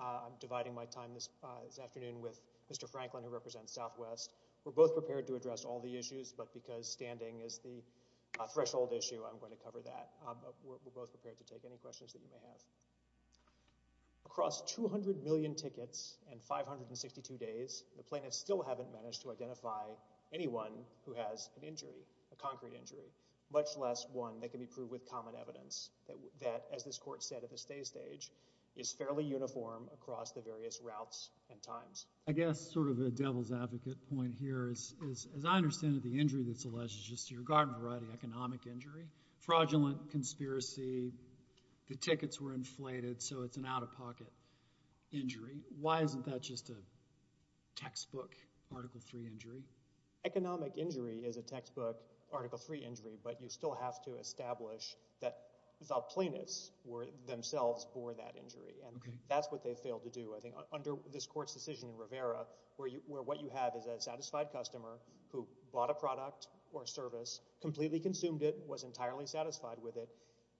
I'm dividing my time this afternoon with Mr. Franklin, who represents Southwest. We're both prepared to address all the issues, but because standing is the threshold issue, I'm going to cover that. We're both prepared to take any questions that you may have. Across 200 million tickets and 562 days, the plaintiffs still haven't managed to identify anyone who has an injury, a concrete injury, much less one that can be proved with common evidence that, as this court said at the stay stage, is fairly uniform across the various routes and times. I guess sort of a devil's advocate point here is, as I understand it, the injury that's alleged is just your garden variety economic injury, fraudulent conspiracy, the tickets were inflated, so it's an out-of-pocket injury. Why isn't that just a textbook Article III injury? Economic injury is a textbook Article III injury, but you still have to establish that the plaintiffs were themselves born that injury, and that's what they failed to do, I think. Under this court's decision in Rivera, where what you have is a satisfied customer who bought a product or service, completely consumed it, was entirely satisfied with it,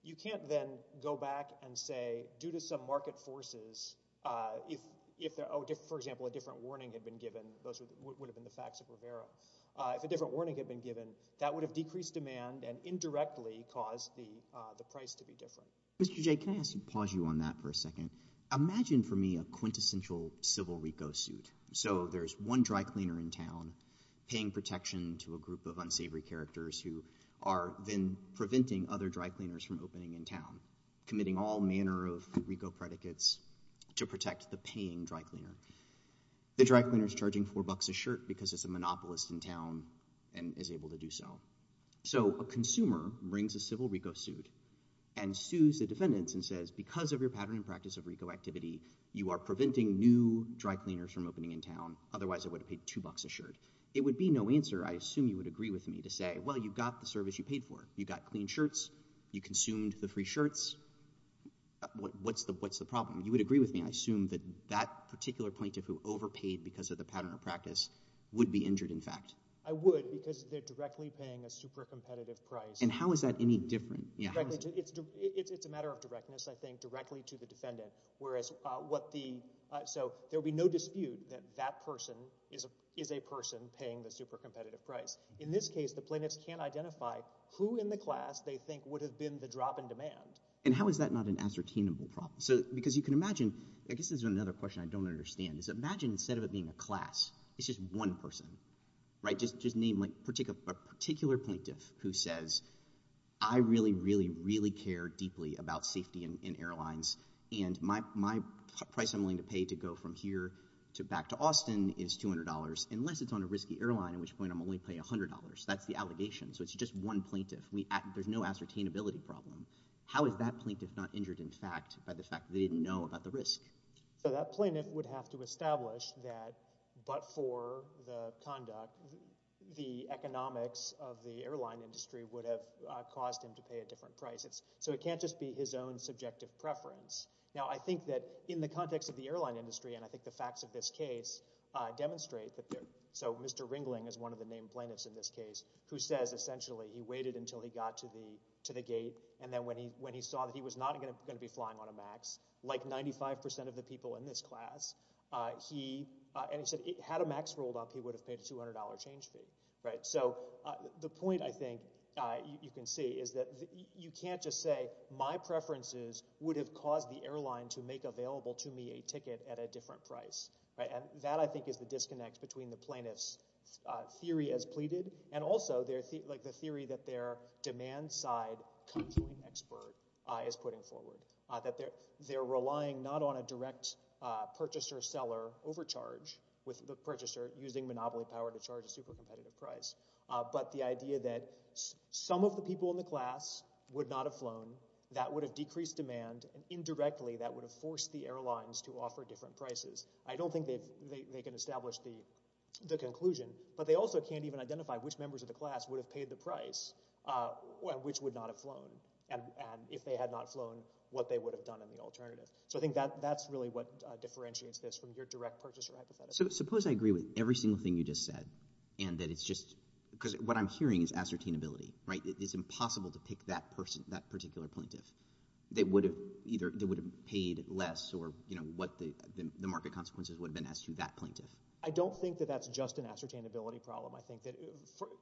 you can't then go back and say, due to some market forces, if, for example, a different warning had been given, those would have been the facts of Rivera, if a different warning had been given, that would have decreased demand and indirectly caused the price to be different. Mr. Jay, can I ask you to pause you on that for a second? Imagine for me a quintessential civil RICO suit. So there's one dry cleaner in town paying protection to a group of unsavory characters who are then preventing other dry cleaners from opening in town, committing all manner of RICO predicates to protect the paying dry cleaner. The dry cleaner's charging four bucks a shirt because it's a monopolist in town and is able to do so. So a consumer brings a civil RICO suit and sues the defendants and says, because of your pattern and practice of RICO activity, you are preventing new dry cleaners from opening in town, otherwise I would have paid two bucks a shirt. It would be no answer, I assume you would agree with me, to say, well, you got the service you paid for. You got clean shirts. You consumed the free shirts. What's the problem? You would agree with me, I assume, that that particular plaintiff who overpaid because of the pattern of practice would be injured, in fact? I would, because they're directly paying a super competitive price. And how is that any different? It's a matter of directness, I think, directly to the defendant. So there would be no dispute that that person is a person paying the super competitive price. In this case, the plaintiffs can't identify who in the class they think would have been the drop in demand. And how is that not an ascertainable problem? Because you can imagine, I guess this is another question I don't understand, is imagine instead of it being a class, it's just one person, right? Just name a particular plaintiff who says, I really, really, really care deeply about safety in airlines, and my price I'm willing to pay to go from here to back to Austin is $200, unless it's on a risky airline, at which point I'm only paying $100. That's the allegation. So it's just one plaintiff. There's no ascertainability problem. How is that plaintiff not injured, in fact, by the fact they didn't know about the risk? So that plaintiff would have to establish that but for the conduct, the economics of the airline industry would have caused him to pay a different price. So it can't just be his own subjective preference. Now I think that in the context of the airline industry, and I think the facts of this case demonstrate that there, so Mr. Ringling is one of the named plaintiffs in this case who says essentially he waited until he got to the gate, and then when he saw that he was not going to be flying on a MAX, like 95% of the people in this class, he, and he said had a MAX rolled up, he would have paid a $200 change fee, right? So the point, I think, you can see is that you can't just say my preferences would have caused the airline to make available to me a ticket at a different price, right? And that, I think, is the disconnect between the plaintiff's theory as pleaded, and also their, like the theory that their demand side conjoint expert is putting forward, that they're relying not on a direct purchaser-seller overcharge with the purchaser using monopoly power to But the idea that some of the people in the class would not have flown, that would have decreased demand, and indirectly that would have forced the airlines to offer different prices. I don't think they can establish the conclusion, but they also can't even identify which members of the class would have paid the price, and which would not have flown, and if they had not flown, what they would have done in the alternative. So I think that's really what differentiates this from your direct purchaser hypothesis. So suppose I agree with every single thing you just said, and that it's just, because what I'm hearing is ascertainability, right? It's impossible to pick that person, that particular plaintiff. They would have paid less, or what the market consequences would have been as to that plaintiff. I don't think that that's just an ascertainability problem. I think that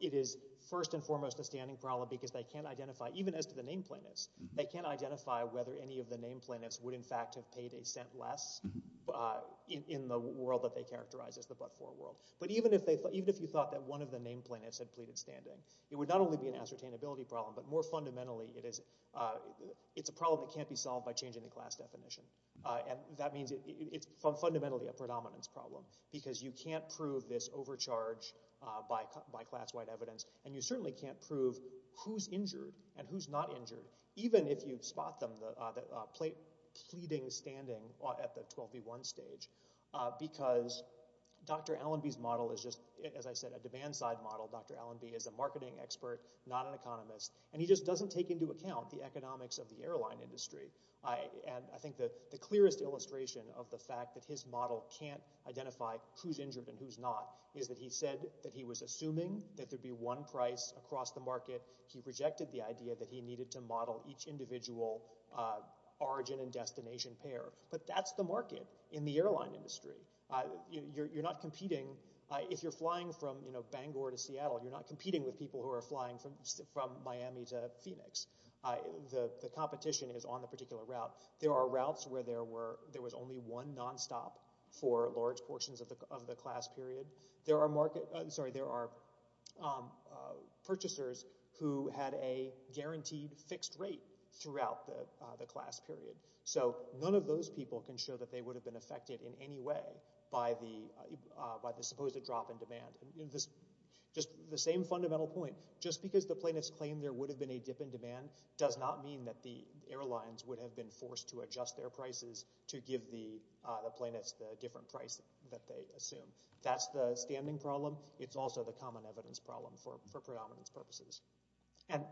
it is first and foremost a standing problem, because they can't identify, even as to the name plaintiffs, they can't identify whether any of the name plaintiffs would in fact be sent less in the world that they characterize as the but-for world. But even if you thought that one of the name plaintiffs had pleaded standing, it would not only be an ascertainability problem, but more fundamentally, it's a problem that can't be solved by changing the class definition. That means it's fundamentally a predominance problem, because you can't prove this overcharge by class-wide evidence, and you certainly can't prove who's injured and who's not injured, even if you spot them pleading standing at the 12v1 stage, because Dr. Allenby's model is just, as I said, a demand-side model. Dr. Allenby is a marketing expert, not an economist, and he just doesn't take into account the economics of the airline industry. I think the clearest illustration of the fact that his model can't identify who's injured and who's not is that he said that he was assuming that there'd be one price across the market. He rejected the idea that he needed to model each individual origin and destination pair. But that's the market in the airline industry. You're not competing. If you're flying from Bangor to Seattle, you're not competing with people who are flying from Miami to Phoenix. The competition is on a particular route. There are routes where there was only one nonstop for large portions of the class period. There are purchasers who had a guaranteed fixed rate throughout the class period. So none of those people can show that they would have been affected in any way by the supposed drop in demand. Just the same fundamental point. Just because the planets claim there would have been a dip in demand does not mean that the airlines would have been forced to adjust their prices to give the planets the different price that they assume. That's the standing problem. It's also the common evidence problem for predominance purposes. And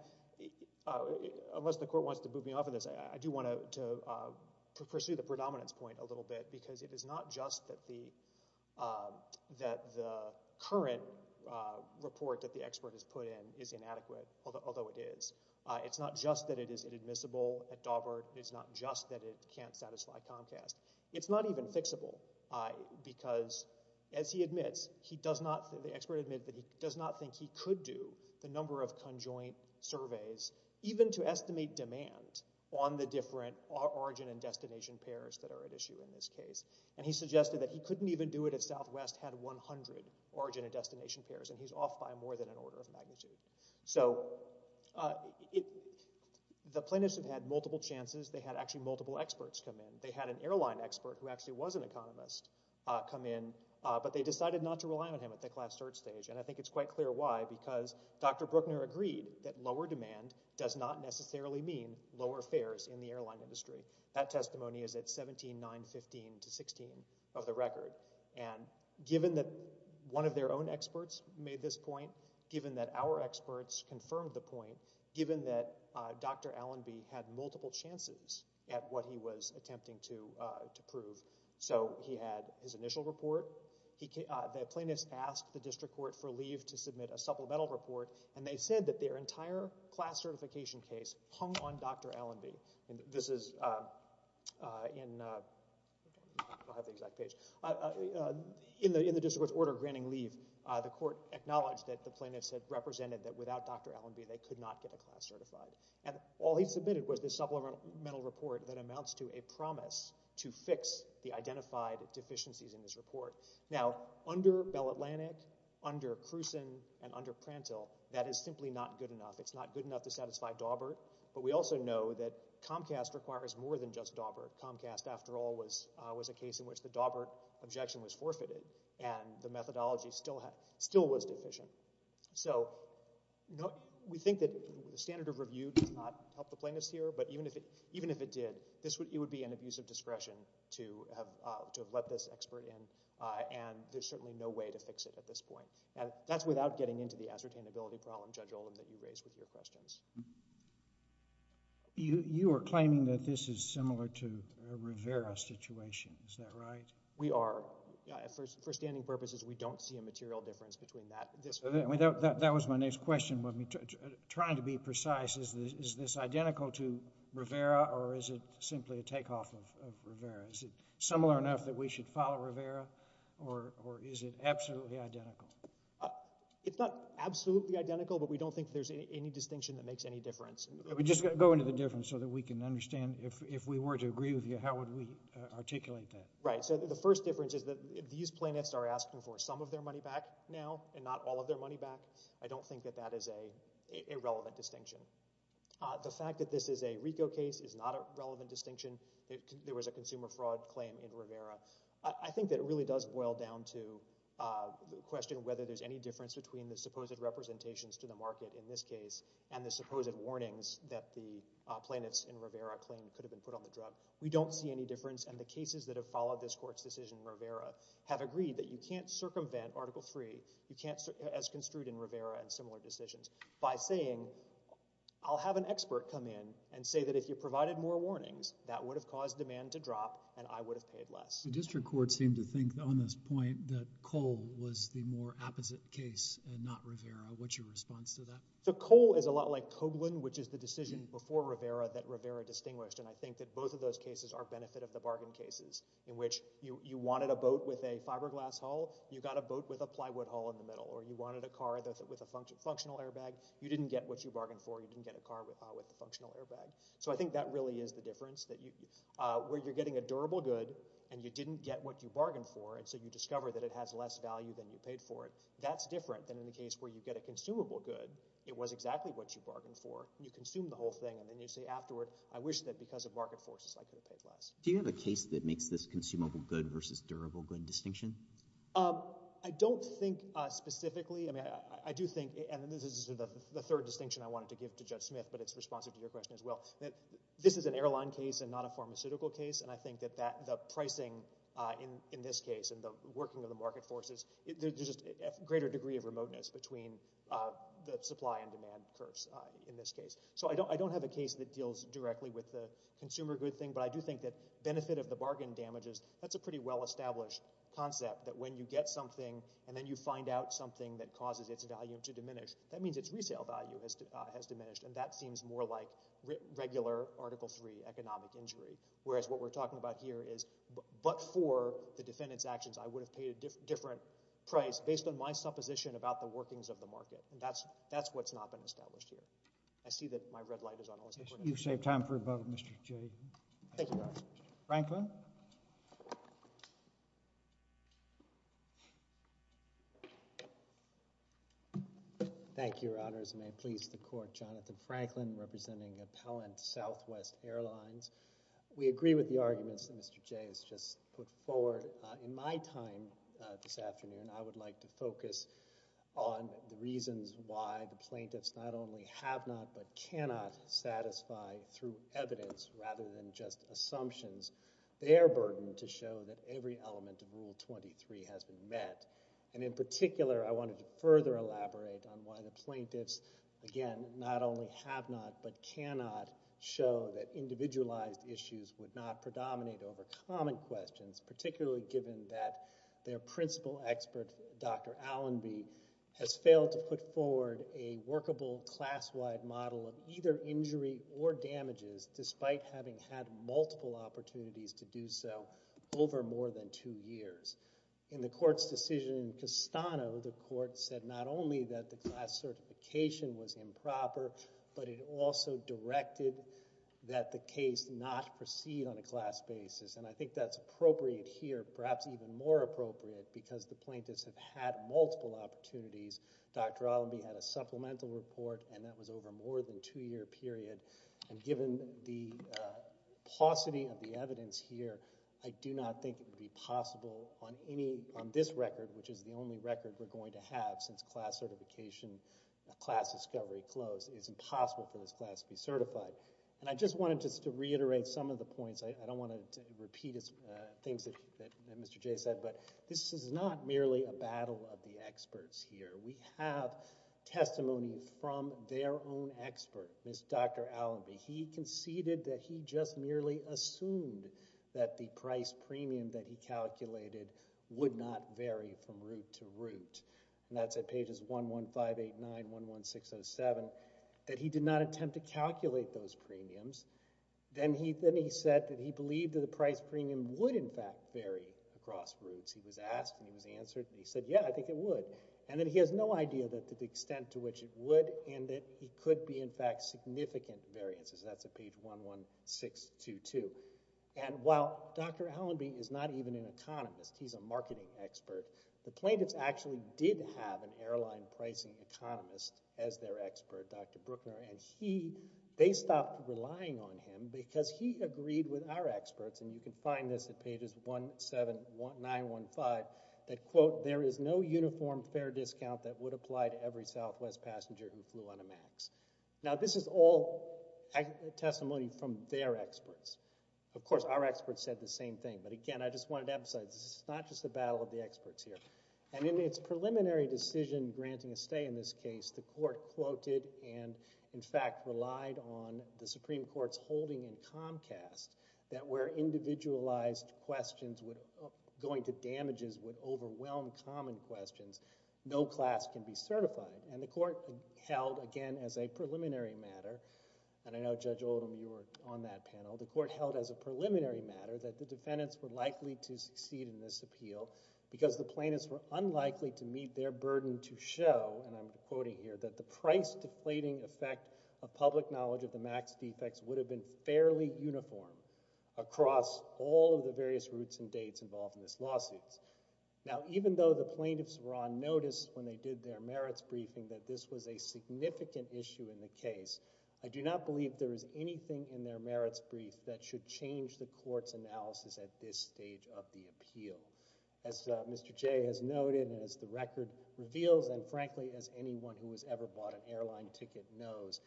unless the court wants to boot me off of this, I do want to pursue the predominance point a little bit because it is not just that the current report that the expert has put in is inadequate, although it is. It's not just that it is inadmissible at Daubert. It's not just that it can't satisfy Comcast. It's not even fixable because, as he admits, the expert admits that he does not think he could do the number of conjoint surveys even to estimate demand on the different origin and destination pairs that are at issue in this case. And he suggested that he couldn't even do it if Southwest had 100 origin and destination pairs, and he's off by more than an order of magnitude. So the planets have had multiple chances. They had actually multiple experts come in. They had an airline expert who actually was an economist come in, but they decided not to rely on him at the class search stage, and I think it's quite clear why, because Dr. Bruckner agreed that lower demand does not necessarily mean lower fares in the airline industry. That testimony is at 17, 9, 15 to 16 of the record, and given that one of their own experts made this point, given that our experts confirmed the point, given that Dr. Allenby had multiple chances at what he was attempting to prove. So he had his initial report, the plaintiffs asked the district court for leave to submit a supplemental report, and they said that their entire class certification case hung on Dr. Allenby. This is in, I don't have the exact page. In the district court's order granting leave, the court acknowledged that the plaintiffs had represented that without Dr. Allenby they could not get a class certified. And all he submitted was this supplemental report that amounts to a promise to fix the identified deficiencies in this report. Now under Bell Atlantic, under Krusen, and under Prantill, that is simply not good enough. It's not good enough to satisfy Dawbert, but we also know that Comcast requires more than just Dawbert. Comcast, after all, was a case in which the Dawbert objection was forfeited, and the methodology still was deficient. So we think that the standard of review did not help the plaintiffs here, but even if it did, it would be an abuse of discretion to have let this expert in, and there's certainly no way to fix it at this point. And that's without getting into the ascertainability problem, Judge Olin, that you raised with your questions. You are claiming that this is similar to a Rivera situation, is that right? We are. For standing purposes, we don't see a material difference between that. That was my next question, trying to be precise. Is this identical to Rivera, or is it simply a takeoff of Rivera? Is it similar enough that we should follow Rivera, or is it absolutely identical? It's not absolutely identical, but we don't think there's any distinction that makes any difference. We're just going to go into the difference so that we can understand if we were to agree with you, how would we articulate that? Right, so the first difference is that these plaintiffs are asking for some of their money back now, and not all of their money back. I don't think that that is a relevant distinction. The fact that this is a RICO case is not a relevant distinction. There was a consumer fraud claim in Rivera. I think that it really does boil down to the question of whether there's any difference between the supposed representations to the market in this case, and the supposed warnings that the plaintiffs in Rivera claim could have been put on the drug. We don't see any difference, and the cases that have followed this court's decision in Article III, you can't, as construed in Rivera and similar decisions, by saying, I'll have an expert come in and say that if you provided more warnings, that would have caused demand to drop, and I would have paid less. The district court seemed to think, on this point, that Cole was the more apposite case and not Rivera. What's your response to that? So Cole is a lot like Coghlan, which is the decision before Rivera that Rivera distinguished, and I think that both of those cases are benefit of the bargain cases, in which you wanted a boat with a fiberglass hull, you got a boat with a plywood hull in the middle, or you wanted a car with a functional airbag, you didn't get what you bargained for, you didn't get a car with a functional airbag. So I think that really is the difference, where you're getting a durable good, and you didn't get what you bargained for, and so you discover that it has less value than you paid for it. That's different than in the case where you get a consumable good, it was exactly what you bargained for, and you consumed the whole thing, and then you say afterward, I wish that because of market forces, I could have paid less. Do you have a case that makes this consumable good versus durable good distinction? I don't think specifically, I mean, I do think, and this is the third distinction I wanted to give to Judge Smith, but it's responsive to your question as well. This is an airline case and not a pharmaceutical case, and I think that the pricing in this case and the working of the market forces, there's just a greater degree of remoteness between the supply and demand curves in this case. So I don't have a case that deals directly with the consumer good thing, but I do think that benefit of the bargain damages, that's a pretty well-established concept that when you get something, and then you find out something that causes its value to diminish, that means its resale value has diminished, and that seems more like regular Article III economic injury, whereas what we're talking about here is, but for the defendant's actions, I would have paid a different price based on my supposition about the workings of the market, and that's what's not been established here. I see that my red light is on all of this. You've saved time for a moment, Mr. J. Thank you, Your Honor. Franklin? Thank you, Your Honors, and may it please the Court, Jonathan Franklin, representing Appellant Southwest Airlines. We agree with the arguments that Mr. J has just put forward. In my time this afternoon, I would like to focus on the reasons why the plaintiffs not only have not but cannot satisfy, through evidence rather than just assumptions, their burden to show that every element of Rule 23 has been met, and in particular, I wanted to further elaborate on why the plaintiffs, again, not only have not but cannot show that individualized issues would not predominate over common questions, particularly given that their principal expert, Dr. Allenby, has failed to put forward a workable class-wide model of either injury or damages, despite having had multiple opportunities to do so over more than two years. In the Court's decision in Castano, the Court said not only that the class certification was improper, but it also directed that the case not proceed on a class basis, and I think that's appropriate here, perhaps even more appropriate, because the plaintiffs have had multiple opportunities. Dr. Allenby had a supplemental report, and that was over more than a two-year period, and given the paucity of the evidence here, I do not think it would be possible on this record, which is the only record we're going to have since class certification, class discovery And I just wanted just to reiterate some of the points. I don't want to repeat things that Mr. Jay said, but this is not merely a battle of the experts here. We have testimony from their own expert, Ms. Dr. Allenby. He conceded that he just merely assumed that the price premium that he calculated would not vary from root to root, and that's at pages 11589, 11607, that he did not attempt to calculate those premiums. Then he said that he believed that the price premium would, in fact, vary across roots. He was asked, and he was answered, and he said, yeah, I think it would, and that he has no idea that to the extent to which it would, and that it could be, in fact, significant variances. That's at page 11622. And while Dr. Allenby is not even an economist, he's a marketing expert, the plaintiffs actually did have an airline pricing economist as their expert, Dr. Brookner, and he, they stopped relying on him because he agreed with our experts, and you can find this at pages 17915, that quote, there is no uniform fair discount that would apply to every Southwest passenger who flew on a MAX. Now this is all testimony from their experts. Of course, our experts said the same thing, but again, I just wanted to emphasize, this is not just a battle of the experts here. And in its preliminary decision granting a stay in this case, the court quoted and, in fact, relied on the Supreme Court's holding in Comcast that where individualized questions would, going to damages, would overwhelm common questions, no class can be certified. And the court held, again, as a preliminary matter, and I know Judge Oldham, you were on that panel, the court held as a preliminary matter that the defendants were likely to meet their burden to show, and I'm quoting here, that the price deflating effect of public knowledge of the MAX defects would have been fairly uniform across all of the various routes and dates involved in this lawsuit. Now even though the plaintiffs were on notice when they did their merits briefing that this was a significant issue in the case, I do not believe there is anything in their merits brief that should change the court's analysis at this stage of the appeal. As Mr. Jay has noted, and as the record reveals, and frankly as anyone who has ever bought an airline ticket knows,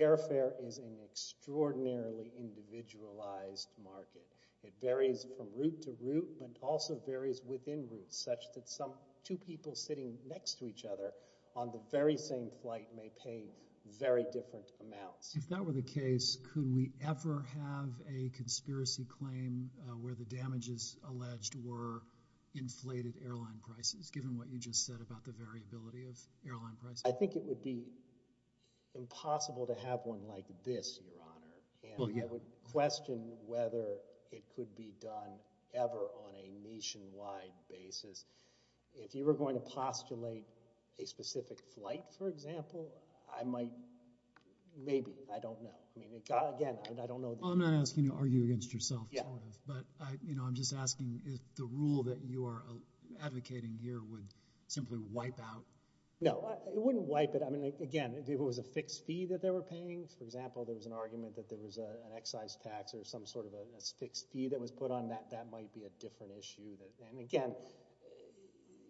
airfare is an extraordinarily individualized market. It varies from route to route, but also varies within routes, such that two people sitting next to each other on the very same flight may pay very different amounts. If that were the case, could we ever have a conspiracy claim where the damages alleged were inflated airline prices, given what you just said about the variability of airline prices? I think it would be impossible to have one like this, Your Honor, and I would question whether it could be done ever on a nationwide basis. If you were going to postulate a specific flight, for example, I might, maybe, I don't know. Again, I don't know. I'm not asking you to argue against yourself, but I'm just asking if the rule that you are advocating here would simply wipe out. No, it wouldn't wipe it, I mean, again, if it was a fixed fee that they were paying, for example, there was an argument that there was an excise tax or some sort of a fixed fee that was put on that, that might be a different issue. And again,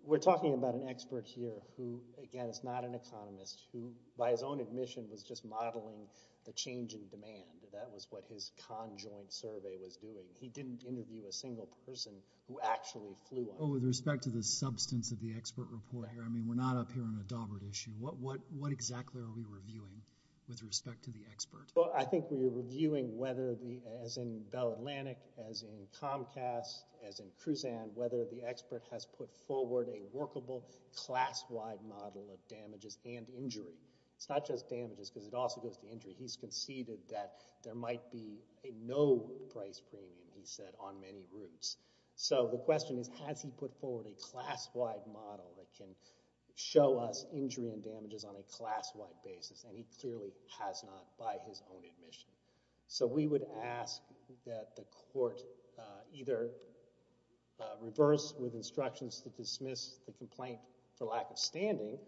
we're talking about an expert here who, again, is not an economist, who by his own admission was just modeling the change in demand. That was what his conjoint survey was doing. He didn't interview a single person who actually flew. Well, with respect to the substance of the expert report here, I mean, we're not up here on a Daubert issue. What exactly are we reviewing with respect to the expert? I think we are reviewing whether the, as in Bell Atlantic, as in Comcast, as in Cruzan, whether the expert has put forward a workable class-wide model of damages and injury. It's not just damages, because it also goes to injury. He's conceded that there might be a no-price premium, he said, on many routes. So the question is, has he put forward a class-wide model that can show us injury and damages on a class-wide basis? And he clearly has not, by his own admission. So we would ask that the court either reverse with instructions to dismiss the complaint for lack of standing,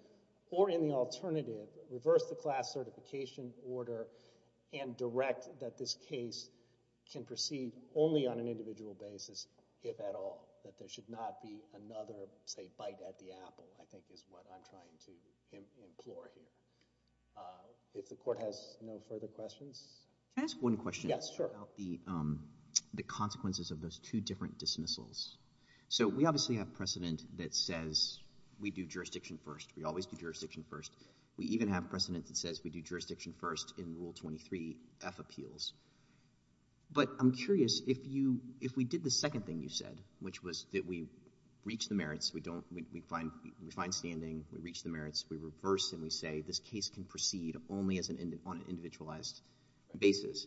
or in the alternative, reverse the class certification order and direct that this case can proceed only on an individual basis, if at all. That there should not be another, say, bite at the apple, I think is what I'm trying to explore here. If the court has no further questions. Can I ask one question? Yes, sure. About the consequences of those two different dismissals. So we obviously have precedent that says we do jurisdiction first. We always do jurisdiction first. We even have precedent that says we do jurisdiction first in Rule 23 F appeals. But I'm curious, if we did the second thing you said, which was that we reach the merits, we find standing, we reach the merits, we reverse, and we say this case can proceed only on an individualized basis,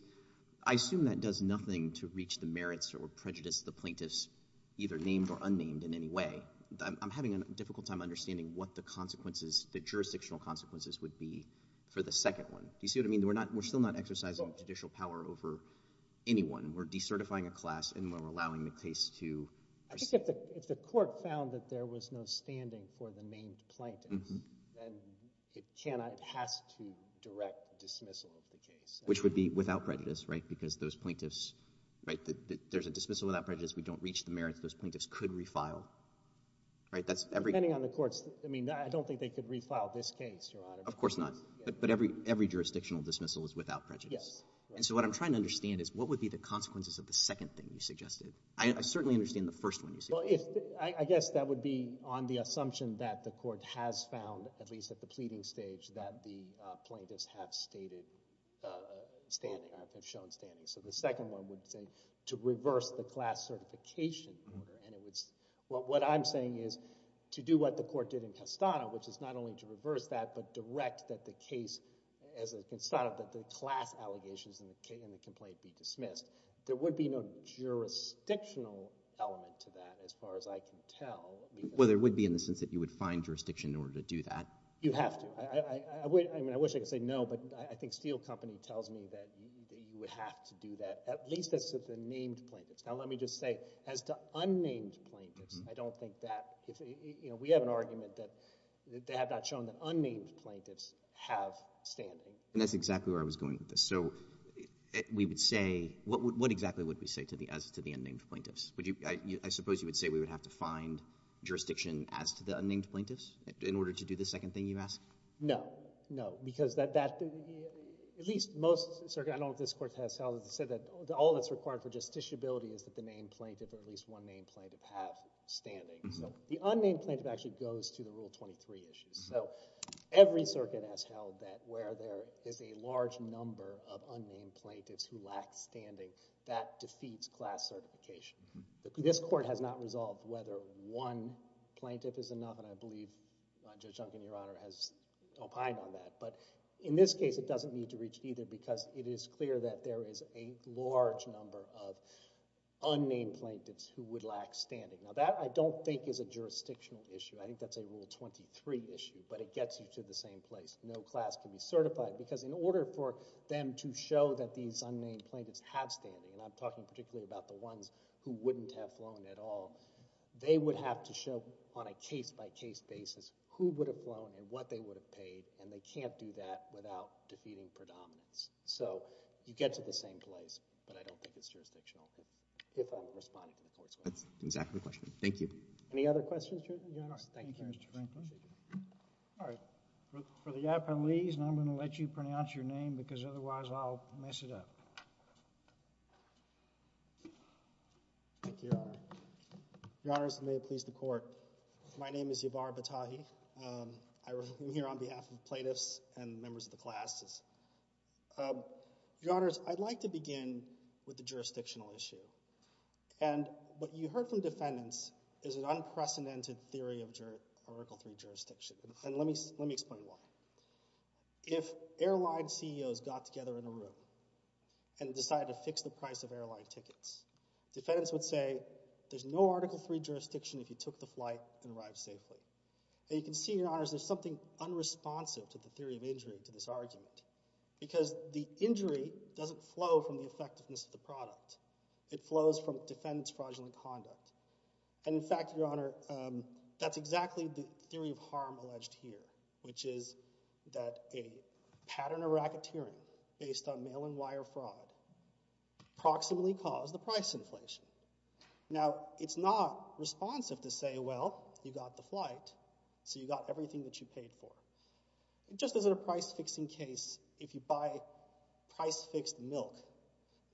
I assume that does nothing to reach the merits or prejudice the plaintiffs, either named or unnamed, in any way. I'm having a difficult time understanding what the consequences, the jurisdictional consequences would be for the second one. Do you see what I mean? We're still not exercising judicial power over anyone. We're decertifying a class and we're allowing the case to proceed. If the court found that there was no standing for the named plaintiff, then it has to direct dismissal of the case. Which would be without prejudice, right? Because those plaintiffs, right, there's a dismissal without prejudice, we don't reach the merits, those plaintiffs could refile, right? Depending on the courts. I mean, I don't think they could refile this case, Your Honor. Of course not. But every jurisdictional dismissal is without prejudice. Yes. And so what I'm trying to understand is what would be the consequences of the second thing you suggested? I certainly understand the first one you said. I guess that would be on the assumption that the court has found, at least at the pleading stage, that the plaintiffs have stated standing, have shown standing. So the second one would say to reverse the class certification order. What I'm saying is, to do what the court did in Castano, which is not only to reverse that but direct that the case, as in Castano, that the class allegations in the complaint be dismissed. There would be no jurisdictional element to that, as far as I can tell. Well, there would be in the sense that you would find jurisdiction in order to do that. You have to. I mean, I wish I could say no, but I think Steel Company tells me that you would have to do that, at least as to the named plaintiffs. Now, let me just say, as to unnamed plaintiffs, I don't think that, you know, we have an argument that they have not shown that unnamed plaintiffs have standing. And that's exactly where I was going with this. So we would say, what exactly would we say as to the unnamed plaintiffs? I suppose you would say we would have to find jurisdiction as to the unnamed plaintiffs in order to do the second thing you asked? No. No. Because at least most circuits, I don't know if this court has held it, said that all that's required for justiciability is that the named plaintiff or at least one named plaintiff have standing. So the unnamed plaintiff actually goes to the Rule 23 issues. So every circuit has held that where there is a large number of unnamed plaintiffs who lack standing, that defeats class certification. This court has not resolved whether one plaintiff is enough, and I believe Judge Duncan, Your Honor, has opined on that. But in this case, it doesn't need to reach either, because it is clear that there is a large number of unnamed plaintiffs who would lack standing. Now, that I don't think is a jurisdictional issue. I think that's a Rule 23 issue, but it gets you to the same place. No class can be certified, because in order for them to show that these unnamed plaintiffs have standing, and I'm talking particularly about the ones who wouldn't have flown at all, they would have to show on a case-by-case basis who would have flown and what they would have paid. And they can't do that without defeating predominance. So you get to the same place, but I don't think it's jurisdictional, if I'm responding to the court's ruling. That's exactly the question. Thank you. Any other questions, Your Honor? Thank you, Mr. Franklin. All right. For the appellees, I'm going to let you pronounce your name, because otherwise I'll mess it up. Thank you, Your Honor. Your Honors, and may it please the Court. My name is Yavar Batahi. I'm here on behalf of the plaintiffs and members of the classes. Your Honors, I'd like to begin with the jurisdictional issue. And what you heard from defendants is an unprecedented theory of Article III jurisdiction, and let me explain why. If airline CEOs got together in a room and decided to fix the price of airline tickets, defendants would say, there's no Article III jurisdiction if you took the flight and arrived safely. And you can see, Your Honors, there's something unresponsive to the theory of injury, to this argument, because the injury doesn't flow from the effectiveness of the product. It flows from defendants' fraudulent conduct. And in fact, Your Honor, that's exactly the theory of harm alleged here, which is that a pattern of racketeering based on mail-and-wire fraud proximately caused the price inflation. Now, it's not responsive to say, well, you got the flight, so you got everything that you paid for. Just as in a price-fixing case, if you buy price-fixed milk,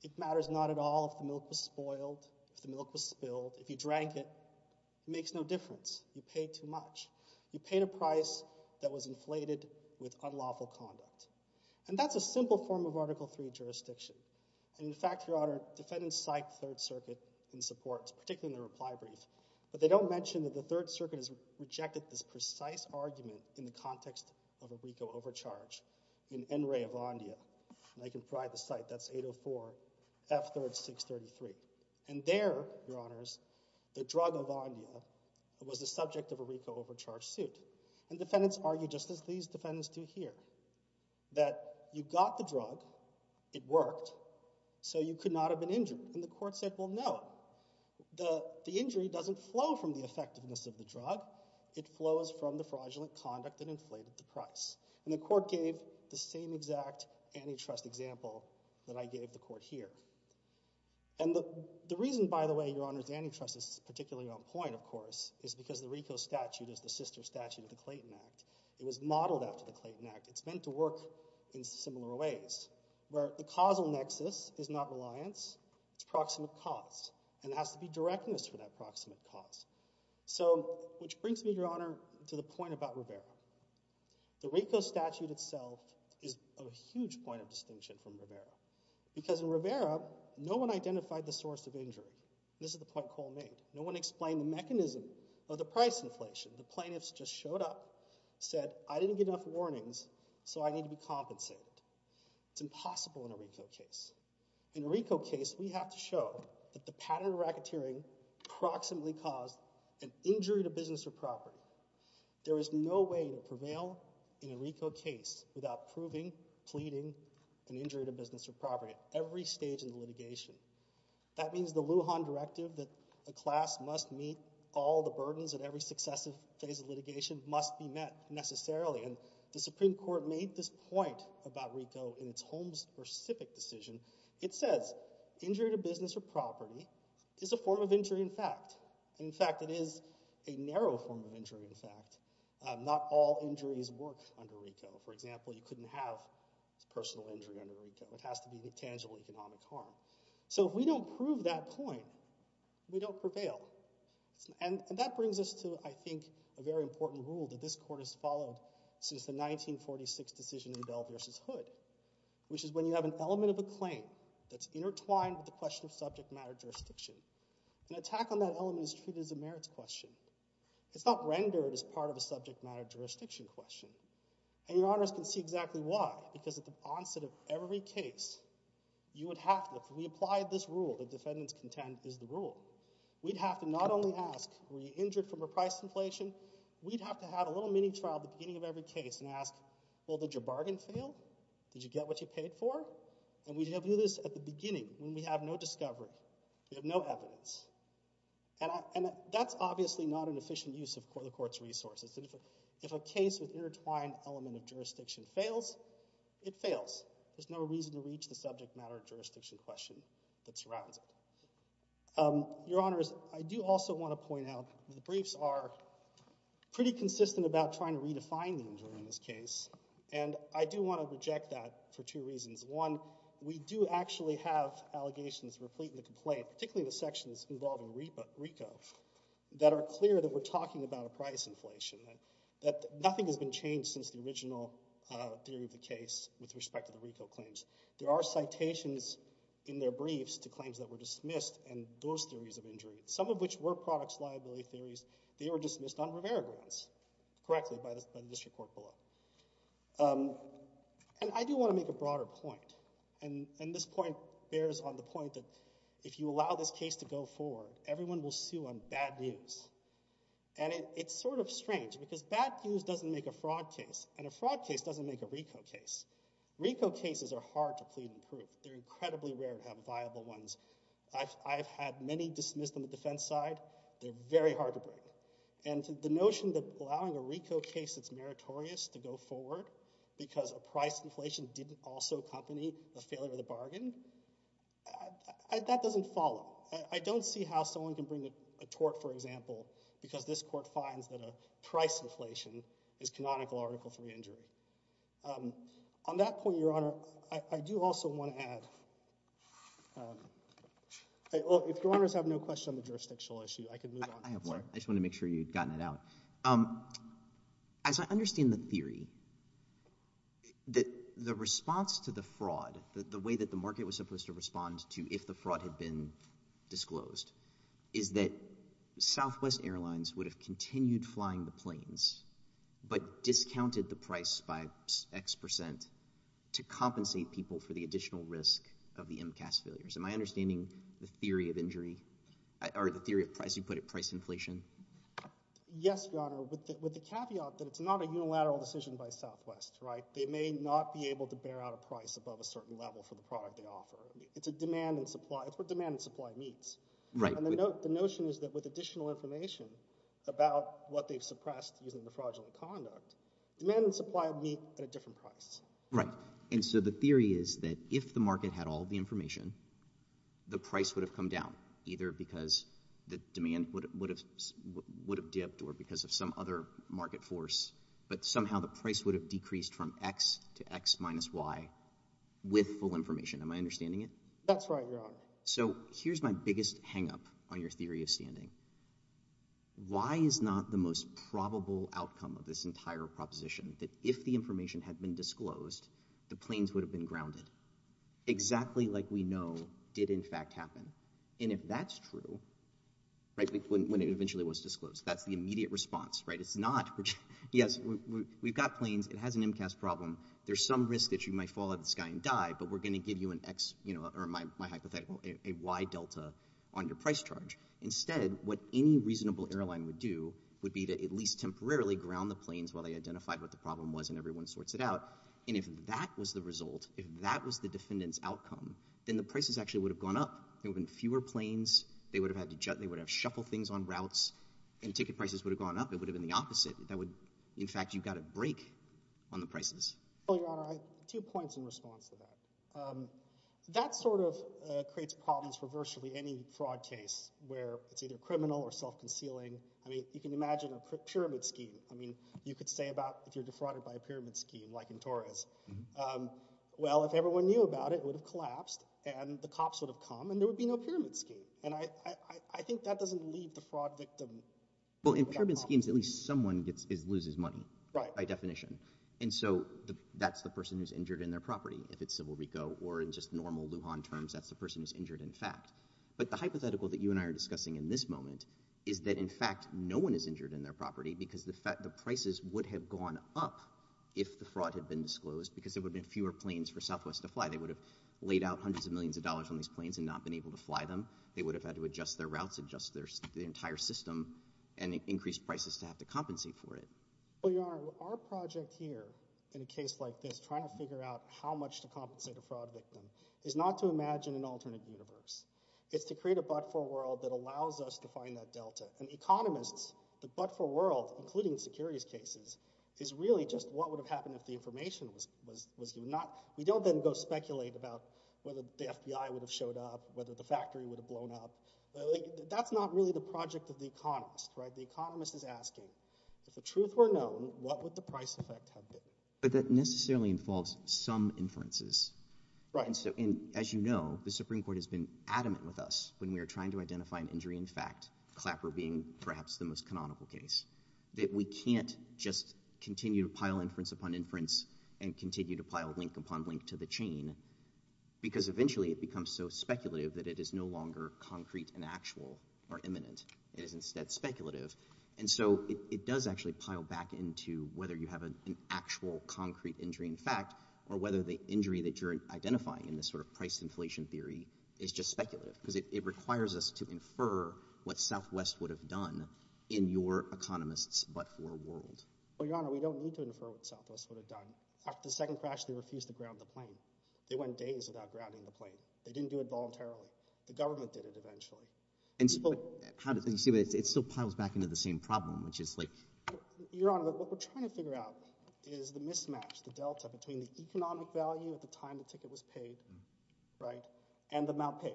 it matters not at all if the milk was spoiled, if the milk was spilled, if you drank it, it makes no difference. You paid too much. You paid a price that was inflated with unlawful conduct. And that's a simple form of Article III jurisdiction. And in fact, Your Honor, defendants cite the Third Circuit in support, particularly in their reply brief, but they don't mention that the Third Circuit has rejected this precise argument in the context of a RICO overcharge in NREA Avandia, and I can provide the site. That's 804 F3rd 633. And there, Your Honors, the drug Avandia was the subject of a RICO overcharge suit. And defendants argue just as these defendants do here, that you got the drug, it worked, so you could not have been injured. And the court said, well, no, the injury doesn't flow from the effectiveness of the drug. It flows from the fraudulent conduct that inflated the price. And the court gave the same exact antitrust example that I gave the court here. And the reason, by the way, Your Honors, antitrust is particularly on point, of course, is because the RICO statute is the sister statute of the Clayton Act. It was modeled after the Clayton Act. It's meant to work in similar ways, where the causal nexus is not reliance. It's proximate cause. And it has to be directness for that proximate cause. So, which brings me, Your Honor, to the point about Rivera. The RICO statute itself is a huge point of distinction from Rivera. Because in Rivera, no one identified the source of injury. This is the point Cole made. No one explained the mechanism of the price inflation. The plaintiffs just showed up, said, I didn't get enough warnings, so I need to be compensated. It's impossible in a RICO case. In a RICO case, we have to show that the pattern of racketeering proximately caused an injury to business or property. There is no way to prevail in a RICO case without proving, pleading, an injury to business or property at every stage in the litigation. That means the Lujan Directive that the class must meet all the burdens at every successive phase of litigation must be met, necessarily. And the Supreme Court made this point about RICO in its Holmes versus Sipic decision. It says injury to business or property is a form of injury in fact. In fact, it is a narrow form of injury in fact. Not all injuries work under RICO. For example, you couldn't have personal injury under RICO. It has to be the tangible economic harm. So if we don't prove that point, we don't prevail. And that brings us to, I think, a very important rule that this court has followed since the 1946 decision in Bell versus Hood, which is when you have an element of a claim that's intertwined with the question of subject matter jurisdiction. An attack on that element is treated as a merits question. It's not rendered as part of a subject matter jurisdiction question. And your honors can see exactly why, because at the onset of every case, you would have to, if we applied this rule that defendants contend is the rule, we'd have to not only ask, were you injured from repriced inflation? We'd have to have a little mini trial at the beginning of every case and ask, well, did your bargain fail? Did you get what you paid for? And we'd have to do this at the beginning when we have no discovery, we have no evidence. And that's obviously not an efficient use of the court's resources. If a case with intertwined element of jurisdiction fails, it fails. There's no reason to reach the subject matter jurisdiction question that surrounds it. Your honors, I do also want to point out the briefs are pretty consistent about trying to redefine the injury in this case. And I do want to reject that for two reasons. One, we do actually have allegations replete in the complaint, particularly the sections involving RICO, that are clear that we're talking about a price inflation, that nothing has been changed since the original theory of the case with respect to the RICO claims. There are citations in their briefs to claims that were dismissed and those theories of injury, some of which were products liability theories. They were dismissed on Rivera grounds, correctly, by the district court below. And I do want to make a broader point. And this point bears on the point that if you allow this case to go forward, everyone will sue on bad news. And it's sort of strange, because bad news doesn't make a fraud case. And a fraud case doesn't make a RICO case. RICO cases are hard to plead and prove. They're incredibly rare to have viable ones. I've had many dismissed on the defense side. They're very hard to break. And the notion that allowing a RICO case that's meritorious to go forward because a price inflation didn't also accompany the failure of the bargain, that doesn't follow. I don't see how someone can bring a tort, for example, because this court finds that a price inflation is On that point, Your Honor, I do also want to add. If Your Honors have no question on the jurisdictional issue, I can move on. I have one. I just want to make sure you've gotten it out. As I understand the theory, the response to the fraud, the way that the market was supposed to respond to if the fraud had been disclosed, is that Southwest Airlines would have continued flying the planes, but discounted the price by x% to compensate people for the additional risk of the MCAS failures. Am I understanding the theory of injury, or the theory of price, you put it, price inflation? Yes, Your Honor, with the caveat that it's not a unilateral decision by Southwest, right? They may not be able to bear out a price above a certain level for the product they offer. It's a demand and supply. It's what demand and supply meets. And the notion is that with additional information about what they've suppressed using the fraudulent conduct, demand and supply meet at a different price. Right. And so the theory is that if the market had all the information, the price would have come down, either because the demand would have dipped or because of some other market force. But somehow the price would have decreased from x to x minus y with full information. Am I understanding it? That's right, Your Honor. So here's my biggest hang-up on your theory of standing. Why is not the most probable outcome of this entire proposition that if the information had been disclosed, the planes would have been grounded, exactly like we know did, in fact, happen? And if that's true, when it eventually was disclosed, that's the immediate response. It's not, yes, we've got planes. It has an MCAS problem. There's some risk that you might fall out of the sky and die, but we're going to give you an x, or my hypothetical, a y delta on your price charge. Instead, what any reasonable airline would do would be to at least temporarily ground the planes while they identified what the problem was and everyone sorts it out. And if that was the result, if that was the defendant's outcome, then the prices actually would have gone up. There would have been fewer planes. They would have had to shuffle things on routes. And ticket prices would have gone up. It would have been the opposite. In fact, you got a break on the prices. Well, Your Honor, I have two points in response to that. That sort of creates problems for virtually any fraud case where it's either criminal or self-concealing. I mean, you can imagine a pyramid scheme. I mean, you could say about if you're defrauded by a pyramid scheme, like in Torres. Well, if everyone knew about it, it would have collapsed, and the cops would have come, and there would be no pyramid scheme. And I think that doesn't leave the fraud victim. Well, in pyramid schemes, at least someone loses money by definition. And so that's the person who's injured in their property, if it's Civil Reco, or in just normal Lujan terms, that's the person who's injured in fact. But the hypothetical that you and I are discussing in this moment is that, in fact, no one is injured in their property because the prices would have gone up if the fraud had been disclosed because there would have been fewer planes for Southwest to fly. They would have laid out hundreds of millions of dollars on these planes and not been able to fly them. They would have had to adjust their routes, adjust the entire system, and increase prices to have to compensate for it. Well, Your Honour, our project here in a case like this, trying to figure out how much to compensate a fraud victim, is not to imagine an alternate universe. It's to create a but-for world that allows us to find that delta. And economists, the but-for world, including securities cases, is really just what would have happened if the information was not... We don't then go speculate about whether the FBI would have showed up, whether the factory would have blown up. That's not really the project of the economist, right? The economist is asking, if the truth were known, what would the price effect have been? But that necessarily involves some inferences. Right, and so, as you know, the Supreme Court has been adamant with us when we were trying to identify an injury in fact, Clapper being perhaps the most canonical case, that we can't just continue to pile inference upon inference and continue to pile link upon link to the chain because eventually it becomes so speculative that it is no longer concrete and actual or imminent. It is instead speculative. And so it does actually pile back into whether you have an actual concrete injury in fact, or whether the injury that you're identifying in this sort of price inflation theory is just speculative because it requires us to infer what Southwest would have done in your economist's but-for world. Well, Your Honor, we don't need to infer what Southwest would have done. After the second crash, they refused to ground the plane. They went days without grounding the plane. They didn't do it voluntarily. The government did it eventually. And so, how do you see it? It still piles back into the same problem, which is like... Your Honor, what we're trying to figure out is the mismatch, the delta between the economic value at the time the ticket was paid, right, and the amount paid.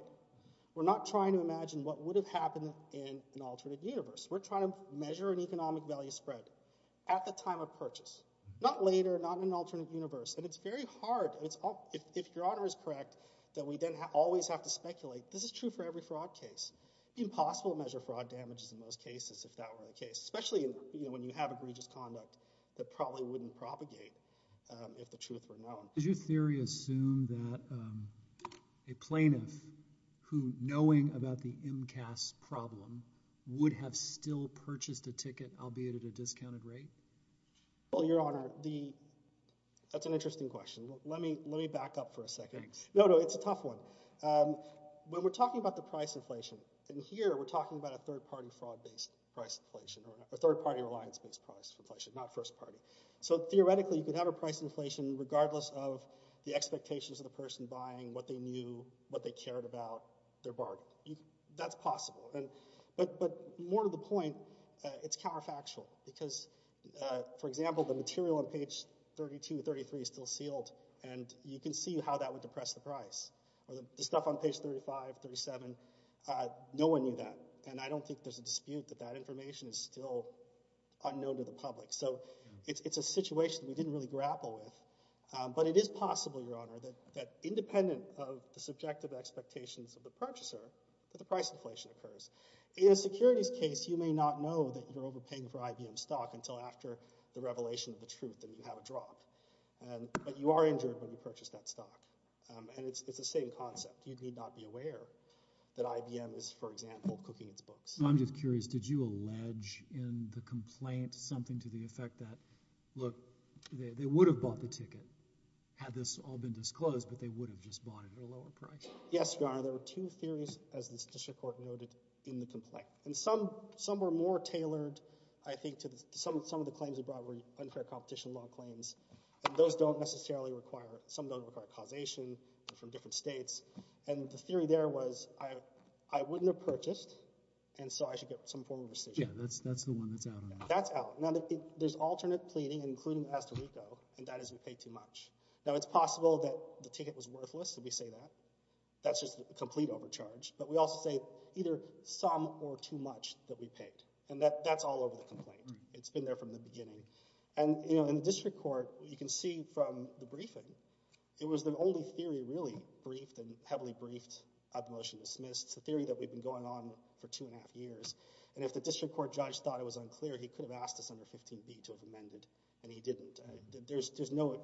We're not trying to imagine what would have happened in an alternate universe. We're trying to measure an economic value spread at the time of purchase. Not later, not in an alternate universe. And it's very hard, if Your Honor is correct, that we then always have to speculate. This is true for every fraud case. Impossible to measure fraud damages in those cases if that were the case, especially when you have egregious conduct that probably wouldn't propagate if the truth were known. Did you, in theory, assume that a plaintiff who, knowing about the MCAS problem, would have still purchased a ticket, albeit at a discounted rate? Well, Your Honor, that's an interesting question. Let me back up for a second. No, no, it's a tough one. When we're talking about the price inflation, in here we're talking about a third-party fraud-based price inflation, or a third-party reliance-based price inflation, not first-party. So, theoretically, you could have a price inflation regardless of the expectations of the person buying, what they knew, what they cared about, their bargain. That's possible. But more to the point, it's counterfactual, because, for example, the material on page 32, 33 is still sealed, and you can see how that would depress the price, or the stuff on page 35, 37, no one knew that. And I don't think there's a dispute that that information is still unknown to the public. So, it's a situation we didn't really grapple with. But it is possible, Your Honor, that independent of the subjective expectations of the purchaser, that the price inflation occurs. In a securities case, you may not know that you're overpaying for IBM stock until after the revelation of the truth, and you have a drop. But you are injured when you purchase that stock. And it's the same concept. You need not be aware that IBM is, for example, cooking its books. I'm just curious, did you allege in the complaint something to the effect that, look, they would have bought the ticket had this all been disclosed, but they would have just bought it at a lower price? Yes, Your Honor, there were two theories, as the statistical court noted in the complaint. And some were more tailored, I think, to some of the claims we brought were unfair competition law claims. And those don't necessarily require... Some don't require causation from different states. And the theory there was, I wouldn't have purchased, and so I should get some form of rescission. Yeah, that's the one that's out on that. That's out. Now, there's alternate pleading, including the Costa Rico, and that is we paid too much. Now, it's possible that the ticket was worthless, and we say that. That's just a complete overcharge. But we also say either some or too much that we paid. And that's all over the complaint. It's been there from the beginning. And, you know, in the district court, you can see from the briefing, it was the only theory really briefed and heavily briefed at the motion dismissed. It's a theory that we've been going on for two and a half years. And if the district court judge thought it was unclear, he could have asked us under 15B to have amended, and he didn't. There's no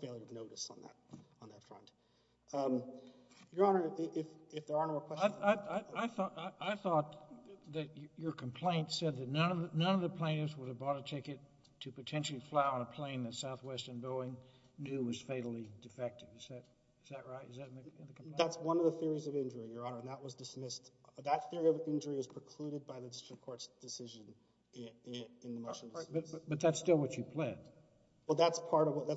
failure of notice on that front. Your Honor, if there are no more questions... I thought that your complaint said that none of the plaintiffs would have bought a ticket to potentially fly on a plane that Southwestern Boeing knew was fatally defective. Is that right? Is that in the complaint? That's one of the theories of injury, Your Honor, and that was dismissed. That theory of injury is precluded by the district court's decision in the motion. But that's still what you pled. Well, that's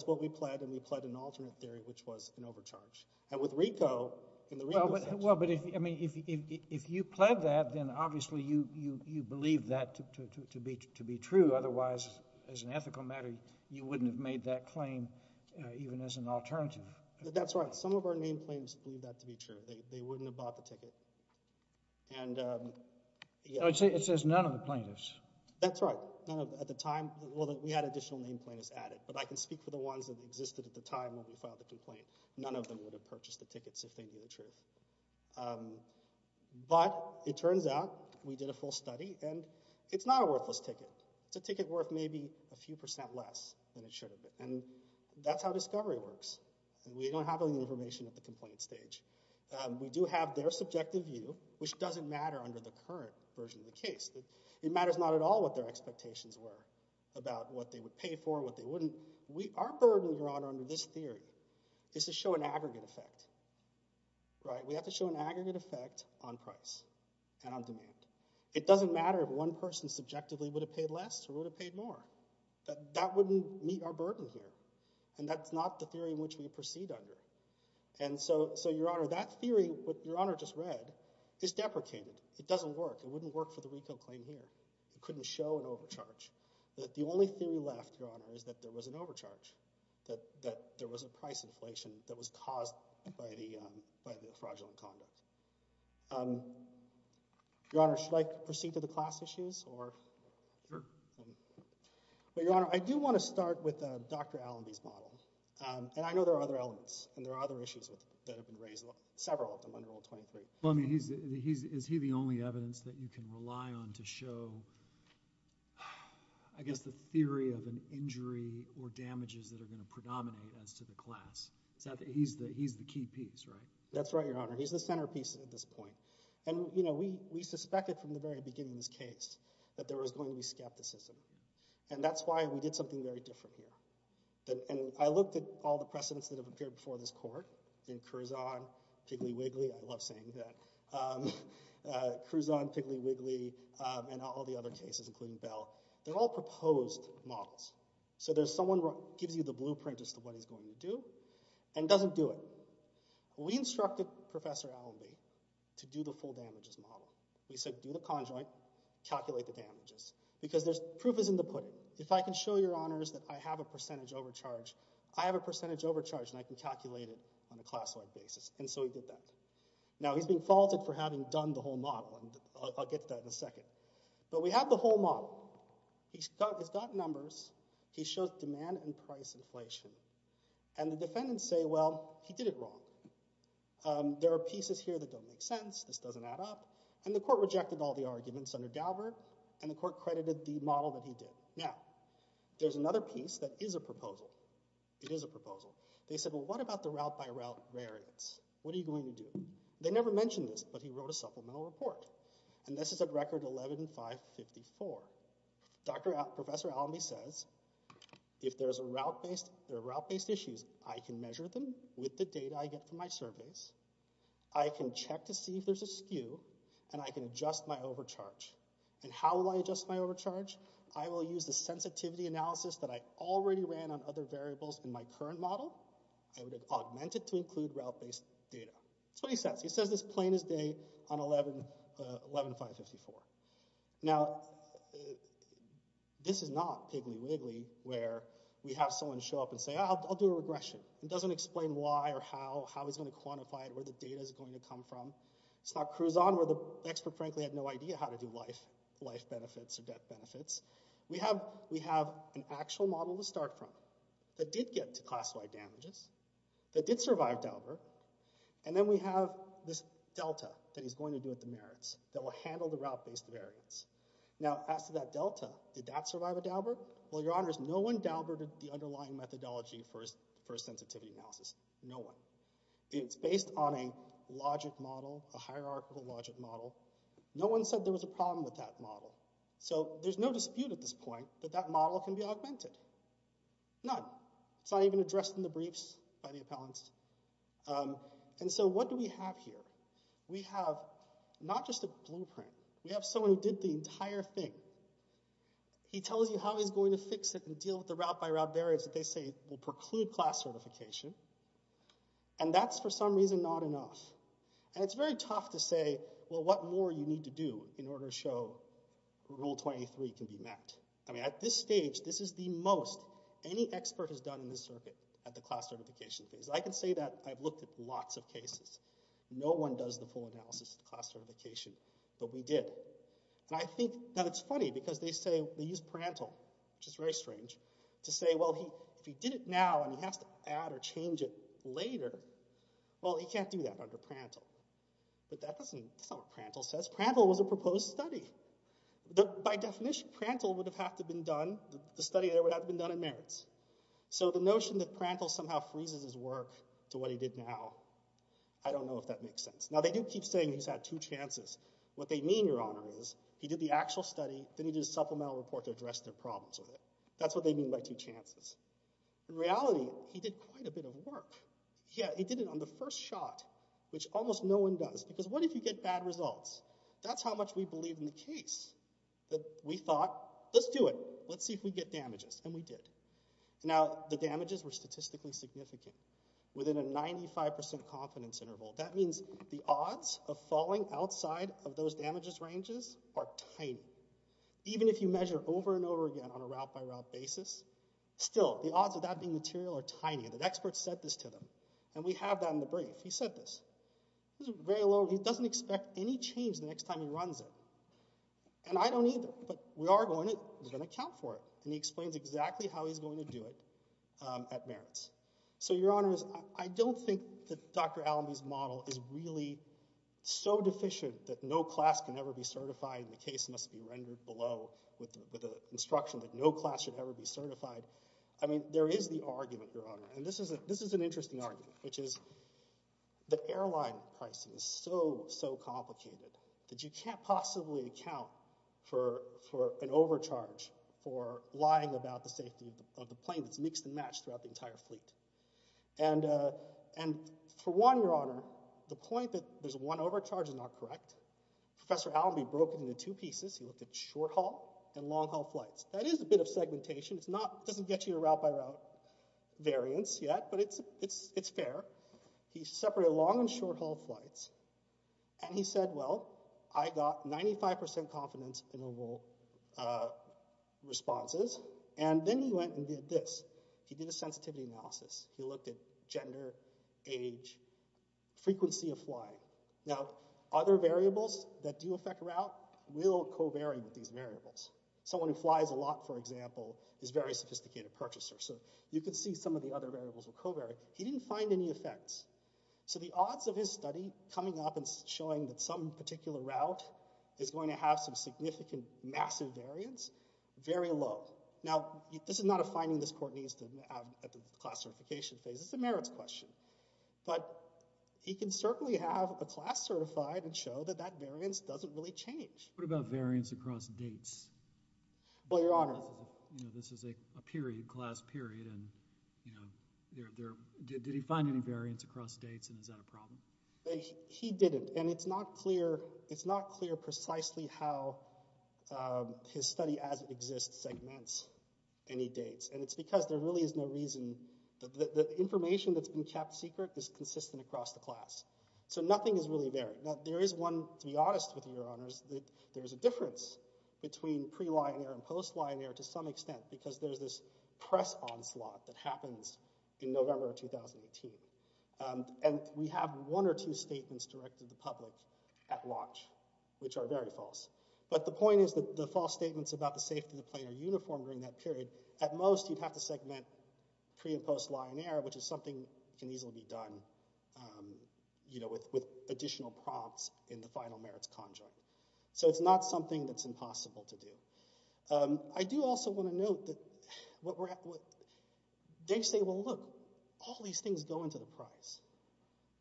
what we pled, and we pled an alternate theory, which was an overcharge. And with Rico, in the Rico section... Well, but if you pled that, then obviously you believe that to be true. Otherwise, as an ethical matter, you wouldn't have made that claim even as an alternative. That's right. Some of our named plaintiffs believe that to be true. They wouldn't have bought the ticket. And... It says none of the plaintiffs. That's right. At the time, well, we had additional named plaintiffs added, but I can speak for the ones that existed at the time when we filed the complaint. None of them would have purchased the tickets if they knew the truth. But it turns out we did a full study, and it's not a worthless ticket. It's a ticket worth maybe a few percent less than it should have been. And that's how discovery works. And we don't have any information at the complaint stage. We do have their subjective view, which doesn't matter under the current version of the case. It matters not at all what their expectations were about what they would pay for, what they wouldn't. Our burden, Your Honor, under this theory is to show an aggregate effect. Right? We have to show an aggregate effect on price and on demand. It doesn't matter if one person subjectively would have paid less or would have paid more. That wouldn't meet our burden here. And that's not the theory in which we proceed under. And so, Your Honor, that theory, what Your Honor just read, is deprecated. It doesn't work. It wouldn't work for the retail claim here. It couldn't show an overcharge. The only theory left, Your Honor, is that there was an overcharge, that there was a price inflation that was caused by the fraudulent conduct. Your Honor, should I proceed to the class issues, or? Sure. But, Your Honor, I do want to start with Dr. Allenby's model. And I know there are other elements, and there are other issues that have been raised, several of them under Rule 23. Well, I mean, is he the only evidence that you can rely on to show, I guess, the theory of an injury or damages that are gonna predominate as to the class? He's the key piece, right? That's right, Your Honor. He's the centerpiece at this point. And we suspected from the very beginning of this case that there was going to be skepticism. And that's why we did something very different here. And I looked at all the precedents that have appeared before this Court, in Curzon, Piggly Wiggly, I love saying that. Curzon, Piggly Wiggly, and all the other cases, including Bell, they're all proposed models. So there's someone who gives you the blueprint as to what he's going to do, and doesn't do it. We instructed Professor Allenby to do the full damages model. We said, do the conjoint, calculate the damages. Because there's proof is in the pudding. If I can show Your Honors that I have a percentage overcharge I have a percentage overcharge, and I can calculate it on a class-wide basis. And so he did that. Now, he's being faulted for having done the whole model, and I'll get to that in a second. But we have the whole model. He's got numbers. He shows demand and price inflation. And the defendants say, well, he did it wrong. There are pieces here that don't make sense. This doesn't add up. And the Court rejected all the arguments under Daubert, and the Court credited the model that he did. Now, there's another piece that is a proposal. It is a proposal. They said, well, what about the route-by-route variance? What are you going to do? They never mentioned this, but he wrote a supplemental report. And this is at Record 11-554. Professor Allenby says, if there are route-based issues, I can measure them with the data I get from my surveys. I can check to see if there's a skew, and I can adjust my overcharge. And how will I adjust my overcharge? I will use the sensitivity analysis that I already ran on other variables in my current model. I would augment it to include route-based data. That's what he says. He says this plain as day on 11-554. Now, this is not Piggly Wiggly, where we have someone show up and say, I'll do a regression. It doesn't explain why or how, how he's going to quantify it, where the data is going to come from. It's not Crouzon, where the expert, frankly, had no idea how to do life benefits or death benefits. We have an actual model to start from that did get to Class Y damages, that did survive Daubert, and then we have this delta that he's going to do with the merits that will handle the route-based variance. Now, as to that delta, did that survive a Daubert? Well, your honors, no one Dauberted the underlying methodology for his sensitivity analysis. No one. It's based on a logic model, a hierarchical logic model. No one said there was a problem with that model. So there's no dispute at this point that that model can be augmented. None. It's not even addressed in the briefs by the appellants. And so what do we have here? We have not just a blueprint. We have someone who did the entire thing. He tells you how he's going to fix it and deal with the route-by-route variance that they say will preclude class certification, and that's, for some reason, not enough. And it's very tough to say, well, what more do you need to do in order to show Rule 23 can be met? I mean, at this stage, this is the most any expert has done in this circuit at the class certification phase. I can say that I've looked at lots of cases. No one does the full analysis of the class certification, but we did. And I think that it's funny because they say, they use Prandtl, which is very strange, to say, well, if he did it now and he has to add or change it later, well, he can't do that under Prandtl. But that's not what Prandtl says. Prandtl was a proposed study. By definition, Prandtl would have had to have been done, the study there would have been done in merits. So the notion that Prandtl somehow freezes his work to what he did now, I don't know if that makes sense. Now, they do keep saying he's had two chances. What they mean, Your Honor, is he did the actual study, then he did a supplemental report to address their problems with it. That's what they mean by two chances. In reality, he did quite a bit of work. Yeah, he did it on the first shot, which almost no one does, because what if you get bad results? That's how much we believe in the case, that we thought, let's do it, let's see if we get damages, and we did. Now, the damages were statistically significant. Within a 95% confidence interval. That means the odds of falling outside of those damages ranges are tiny. Even if you measure over and over again on a route-by-route basis, still, the odds of that being material are tiny, and the experts said this to them. And we have that in the brief. He said this. This is very low, he doesn't expect any change the next time he runs it. And I don't either, but we are going to account for it. And he explains exactly how he's going to do it at merits. So, your honors, I don't think that Dr. Allamey's model is really so deficient that no class can ever be certified, and the case must be rendered below with an instruction that no class should ever be certified. I mean, there is the argument, your honor, and this is an interesting argument, which is the airline crisis is so, so complicated that you can't possibly account for an overcharge for lying about the safety of the plane that's mixed and matched throughout the entire fleet. And for one, your honor, the point that there's one overcharge is not correct. Professor Allamey broke it into two pieces. He looked at short-haul and long-haul flights. That is a bit of segmentation. It's not, it doesn't get you to route-by-route variance yet, but it's fair. He separated long and short-haul flights, and he said, well, I got 95% confidence in overall responses, and then he went and did this. He did a sensitivity analysis. He looked at gender, age, frequency of flying. Now, other variables that do affect route will co-vary with these variables. Someone who flies a lot, for example, is a very sophisticated purchaser, so you can see some of the other variables will co-vary. He didn't find any effects, so the odds of his study coming up and showing that some particular route is going to have some significant, massive variance, very low. Now, this is not a finding this court needs to have at the class certification phase. This is a merits question, but he can certainly have a class certified and show that that variance doesn't really change. What about variance across dates? Well, Your Honor. This is a period, class period, and did he find any variance across dates, and is that a problem? He didn't, and it's not clear precisely how his study as it exists segments any dates, and it's because there really is no reason. The information that's been kept secret is consistent across the class, so nothing is really varied. Now, there is one, to be honest with you, Your Honors, that there's a difference between pre-Lion Air and post-Lion Air to some extent because there's this press onslaught that happens in November of 2018, and we have one or two statements directed to the public at launch, which are very false, but the point is that the false statements about the safety of the plane are uniform during that period. At most, you'd have to segment pre and post-Lion Air, which is something that can easily be done with additional prompts in the final merits conjoint, so it's not something that's impossible to do. I do also want to note that they say, well, look, all these things go into the prize.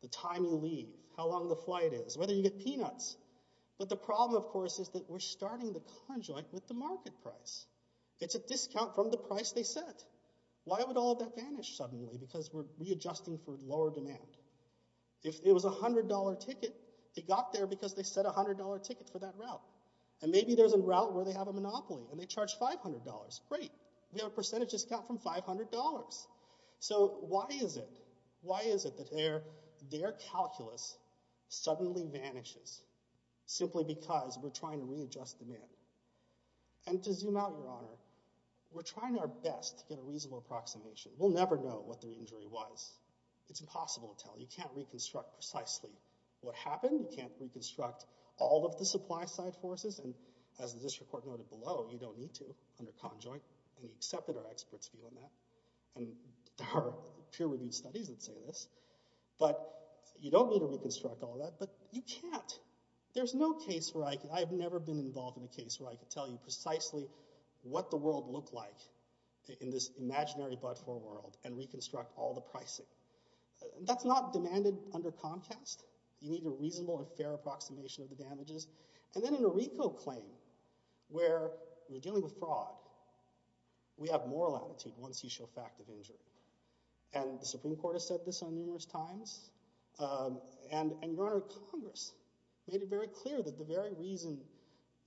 The time you leave, how long the flight is, whether you get peanuts, but the problem, of course, is that we're starting the conjoint with the market price. It's a discount from the price they set. Why would all of that vanish suddenly? Because we're readjusting for lower demand. If it was a $100 ticket, they got there because they set a $100 ticket for that route, and maybe there's a route where they have a monopoly, and they charge $500, great. We have a percentage discount from $500, so why is it that their calculus suddenly vanishes simply because we're trying to readjust demand? And to zoom out, Your Honor, we're trying our best to get a reasonable approximation. We'll never know what the injury was. It's impossible to tell. You can't reconstruct precisely what happened. You can't reconstruct all of the supply-side forces, and as the district court noted below, you don't need to under conjoint, and we accepted our experts' view on that, and our peer-reviewed studies would say this, but you don't need to reconstruct all of that, but you can't. There's no case where I can, I have never been involved in a case where I could tell you precisely what the world looked like in this imaginary but-for world, and reconstruct all the pricing. That's not demanded under Comcast. You need a reasonable and fair approximation of the damages, and then in a RICO claim, where we're dealing with fraud, we have moral aptitude once you show fact of injury, and the Supreme Court has said this on numerous times, and Your Honor, Congress made it very clear that the very reason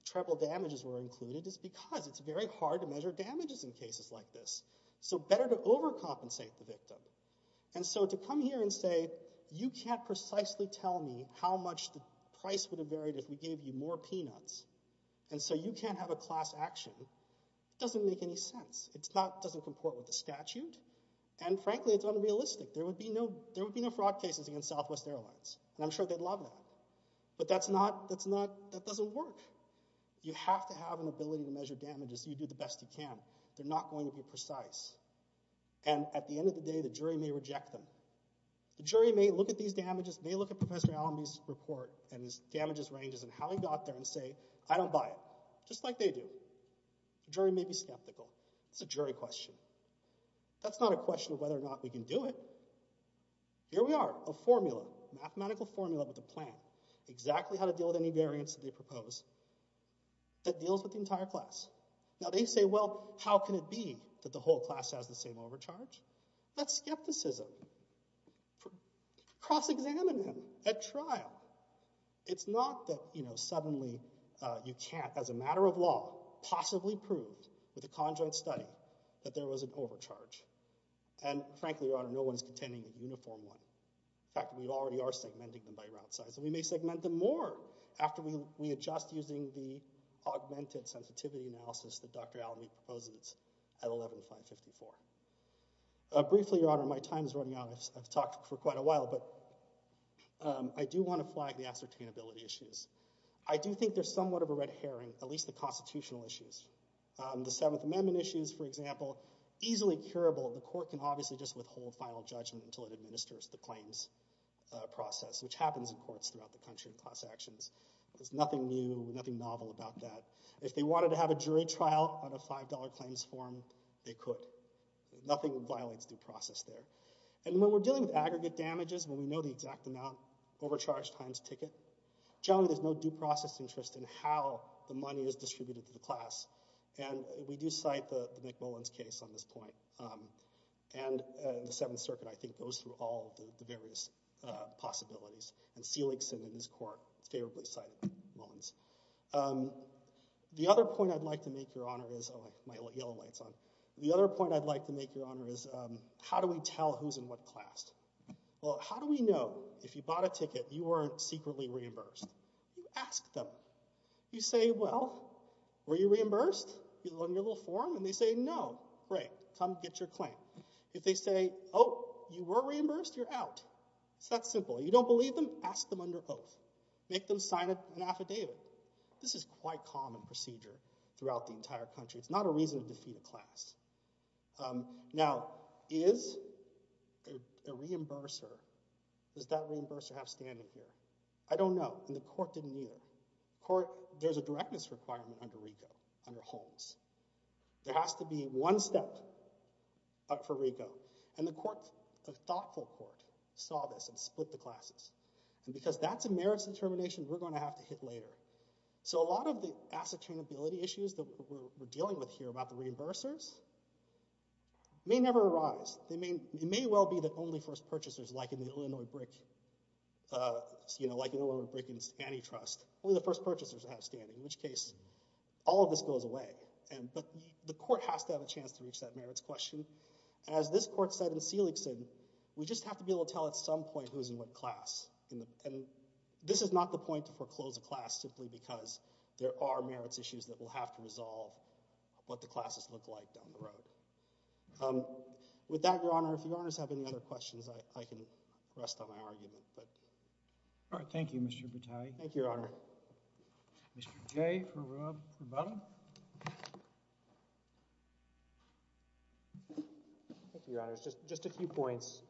treble damages were included is because it's very hard to measure damages in cases like this, so better to overcompensate the victim, and so to come here and say, you can't precisely tell me how much the price would have varied if we gave you more peanuts, and so you can't have a class action, doesn't make any sense. It's not, doesn't comport with the statute, and frankly, it's unrealistic. There would be no fraud cases against Southwest Airlines, and I'm sure they'd love that, but that's not, that doesn't work. You have to have an ability to measure damages. You do the best you can. They're not going to be precise, and at the end of the day, the jury may reject them. The jury may look at these damages, may look at Professor Allamby's report, and his damages ranges, and how he got there and say, I don't buy it, just like they do. Jury may be skeptical. It's a jury question. That's not a question of whether or not we can do it. Here we are, a formula, mathematical formula with a plan, exactly how to deal with any variance that they propose that deals with the entire class. Now, they say, well, how can it be that the whole class has the same overcharge? That's skepticism. So, cross-examine them at trial. It's not that suddenly you can't, as a matter of law, possibly prove with a conjoint study that there was an overcharge, and frankly, Your Honor, no one's contending a uniform one. In fact, we already are segmenting them by route size, and we may segment them more after we adjust using the augmented sensitivity analysis that Dr. Allamby proposes at 11.554. Briefly, Your Honor, my time is running out. I've talked for quite a while, but I do want to flag the ascertainability issues. I do think there's somewhat of a red herring, at least the constitutional issues. The Seventh Amendment issues, for example, easily curable. The court can obviously just withhold final judgment until it administers the claims process, which happens in courts throughout the country in class actions. There's nothing new, nothing novel about that. If they wanted to have a jury trial on a $5 claims form, they could. Nothing violates due process there. And when we're dealing with aggregate damages, when we know the exact amount, overcharge times ticket, generally there's no due process interest in how the money is distributed to the class, and we do cite the McMullin's case on this point, and the Seventh Circuit, I think, goes through all the various possibilities, and Seeligson and his court favorably cite McMullin's. The other point I'd like to make, Your Honor, is, oh, I might let yellow lights on. The other point I'd like to make, Your Honor, is how do we tell who's in what class? Well, how do we know if you bought a ticket, you weren't secretly reimbursed? You ask them. You say, well, were you reimbursed? You go on your little form, and they say, no. Great, come get your claim. If they say, oh, you were reimbursed, you're out. It's that simple. You don't believe them, ask them under oath. Make them sign an affidavit. This is quite common procedure throughout the entire country. It's not a reason to defeat a class. Now, is a reimburser, does that reimburser have standing here? I don't know, and the court didn't either. There's a directness requirement under RICO, under Holmes. There has to be one step up for RICO, and the thoughtful court saw this and split the classes, and because that's a merits determination, we're gonna have to hit later. So a lot of the asset-trainability issues that we're dealing with here about the reimbursers may never arise. It may well be that only first purchasers, like in the Illinois Brick Antitrust, only the first purchasers have standing, in which case, all of this goes away, but the court has to have a chance to reach that merits question. As this court said in Seeligson, we just have to be able to tell at some point who's in what class, and this is not the point to foreclose a class simply because there are merits issues that will have to resolve what the classes look like down the road. With that, Your Honor, if you honors have any other questions, I can rest on my argument, but. All right, thank you, Mr. Battaglia. Thank you, Your Honor. Mr. Jay, for Rub, for Butta. Thank you, Your Honors. Just a few points,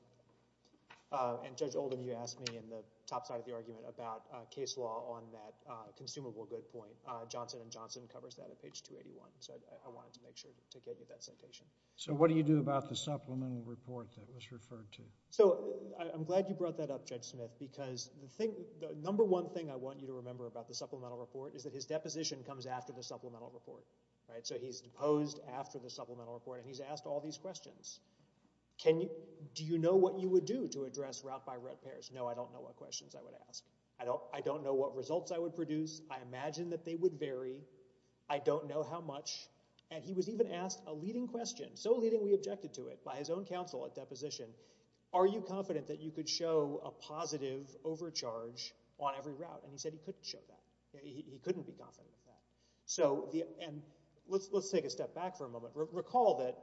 and Judge Oldham, you asked me in the top side of the argument about case law on that consumable good point. Johnson & Johnson covers that at page 281, so I wanted to make sure to get you that citation. So what do you do about the supplemental report that was referred to? So I'm glad you brought that up, Judge Smith, because the number one thing I want you to remember about the supplemental report is that his deposition comes after the supplemental report. So he's posed after the supplemental report, and he's asked all these questions. Do you know what you would do to address route-by-route pairs? No, I don't know what questions I would ask. I don't know what results I would produce. I imagine that they would vary. I don't know how much. And he was even asked a leading question, so leading we objected to it, by his own counsel at deposition. Are you confident that you could show a positive overcharge on every route? And he said he couldn't show that. He couldn't be confident with that. And let's take a step back for a moment. Recall that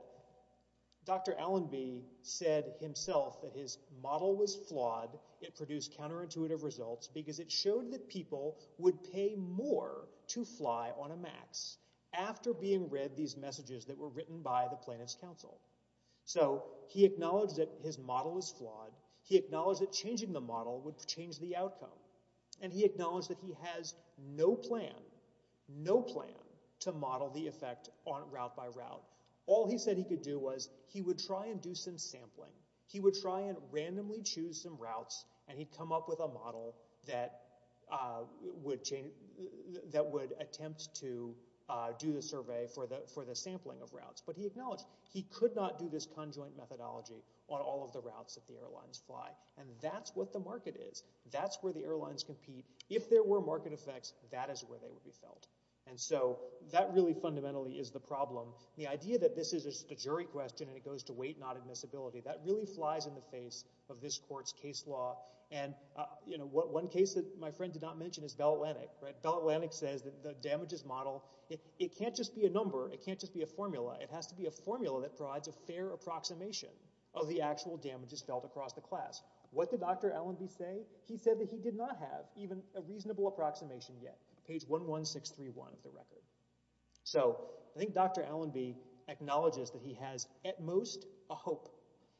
Dr. Allenby said himself that his model was flawed. It produced counterintuitive results because it showed that people would pay more to fly on a MAX after being read these messages that were written by the plaintiff's counsel. So he acknowledged that his model was flawed. He acknowledged that changing the model would change the outcome. And he acknowledged that he has no plan, no plan to model the effect route by route. All he said he could do was he would try and do some sampling. He would try and randomly choose some routes and he'd come up with a model that would attempt to do the survey for the sampling of routes. But he acknowledged he could not do this conjoint methodology on all of the routes that the airlines fly. And that's what the market is. That's where the airlines compete. If there were market effects, that is where they would be felt. And so that really fundamentally is the problem. The idea that this is just a jury question and it goes to weight, not admissibility, that really flies in the face of this court's case law. And one case that my friend did not mention is Bell Atlantic. Bell Atlantic says that the damages model, it can't just be a number, it can't just be a formula. It has to be a formula that provides a fair approximation of the actual damages felt across the class. What did Dr. Allenby say? He said that he did not have even a reasonable approximation yet. Page 11631 of the record. So I think Dr. Allenby acknowledges that he has at most a hope.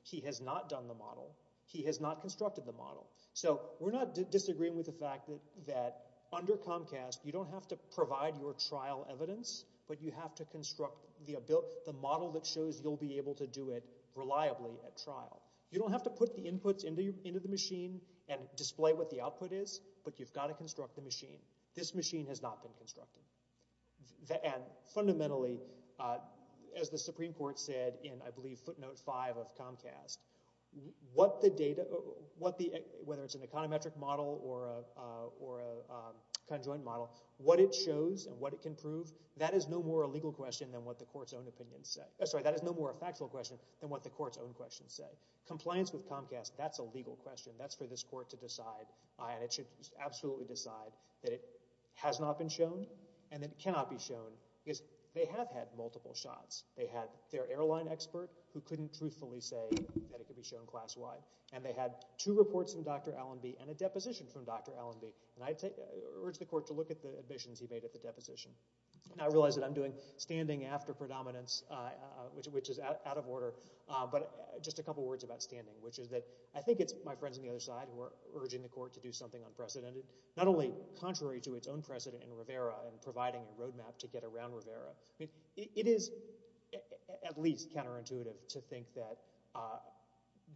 He has not done the model. He has not constructed the model. So we're not disagreeing with the fact that under Comcast, you don't have to provide your trial evidence, but you have to construct the model that shows you'll be able to do it reliably at trial. You don't have to put the inputs into the machine and display what the output is, but you've got to construct the machine. This machine has not been constructed. And fundamentally, as the Supreme Court said in I believe footnote five of Comcast, what the data, whether it's an econometric model or a conjoint model, what it shows and what it can prove, that is no more a legal question than what the court's own opinions say. Sorry, that is no more a factual question than what the court's own questions say. Compliance with Comcast, that's a legal question. That's for this court to decide. And it should absolutely decide that it has not been shown and that it cannot be shown because they have had multiple shots. They had their airline expert who couldn't truthfully say that it could be shown class-wide and they had two reports from Dr. Allenby and a deposition from Dr. Allenby. And I urge the court to look at the admissions he made at the deposition. Now I realize that I'm doing standing after predominance, which is out of order, but just a couple of words about standing, which is that I think it's my friends on the other side who are urging the court to do something unprecedented, not only contrary to its own precedent in Rivera and providing a roadmap to get around Rivera. It is at least counterintuitive to think that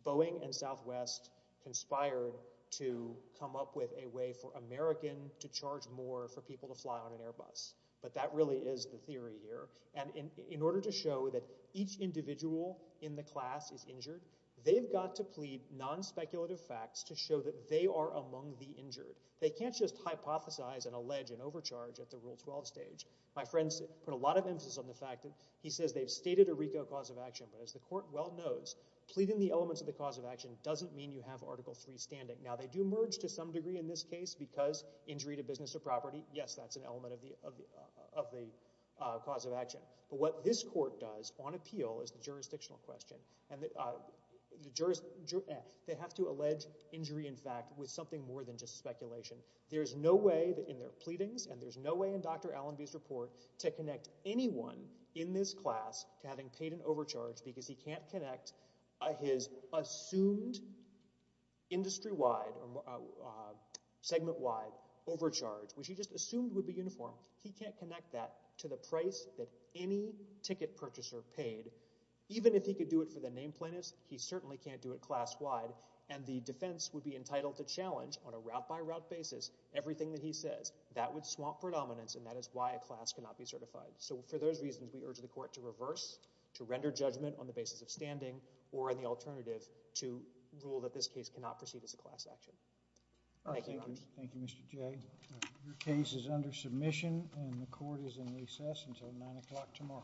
Boeing and Southwest conspired to come up with a way for American to charge more for people to fly on an Airbus. But that really is the theory here. And in order to show that each individual in the class is injured, they've got to plead non-speculative facts to show that they are among the injured. They can't just hypothesize and allege an overcharge at the Rule 12 stage. My friends put a lot of emphasis on the fact that he says they've stated a RICO cause of action, but as the court well knows, pleading the elements of the cause of action doesn't mean you have Article III standing. Now they do merge to some degree in this case because injury to business or property, yes, that's an element of the cause of action. But what this court does on appeal is the jurisdictional question. And they have to allege injury in fact with something more than just speculation. There's no way that in their pleadings and there's no way in Dr. Allenby's report to connect anyone in this class to having paid an overcharge because he can't connect his assumed industry-wide, segment-wide overcharge, which he just assumed would be uniform, he can't connect that to the price that any ticket purchaser paid, even if he could do it for the name plaintiffs, he certainly can't do it class-wide. And the defense would be entitled to challenge on a route-by-route basis everything that he says. That would swamp predominance and that is why a class cannot be certified. So for those reasons, we urge the court to reverse, to render judgment on the basis of standing or in the alternative to rule that this case cannot proceed as a class action. Thank you, Your Honor. Thank you, Mr. Jay. Your case is under submission and the court is in recess until nine o'clock tomorrow. Thank you.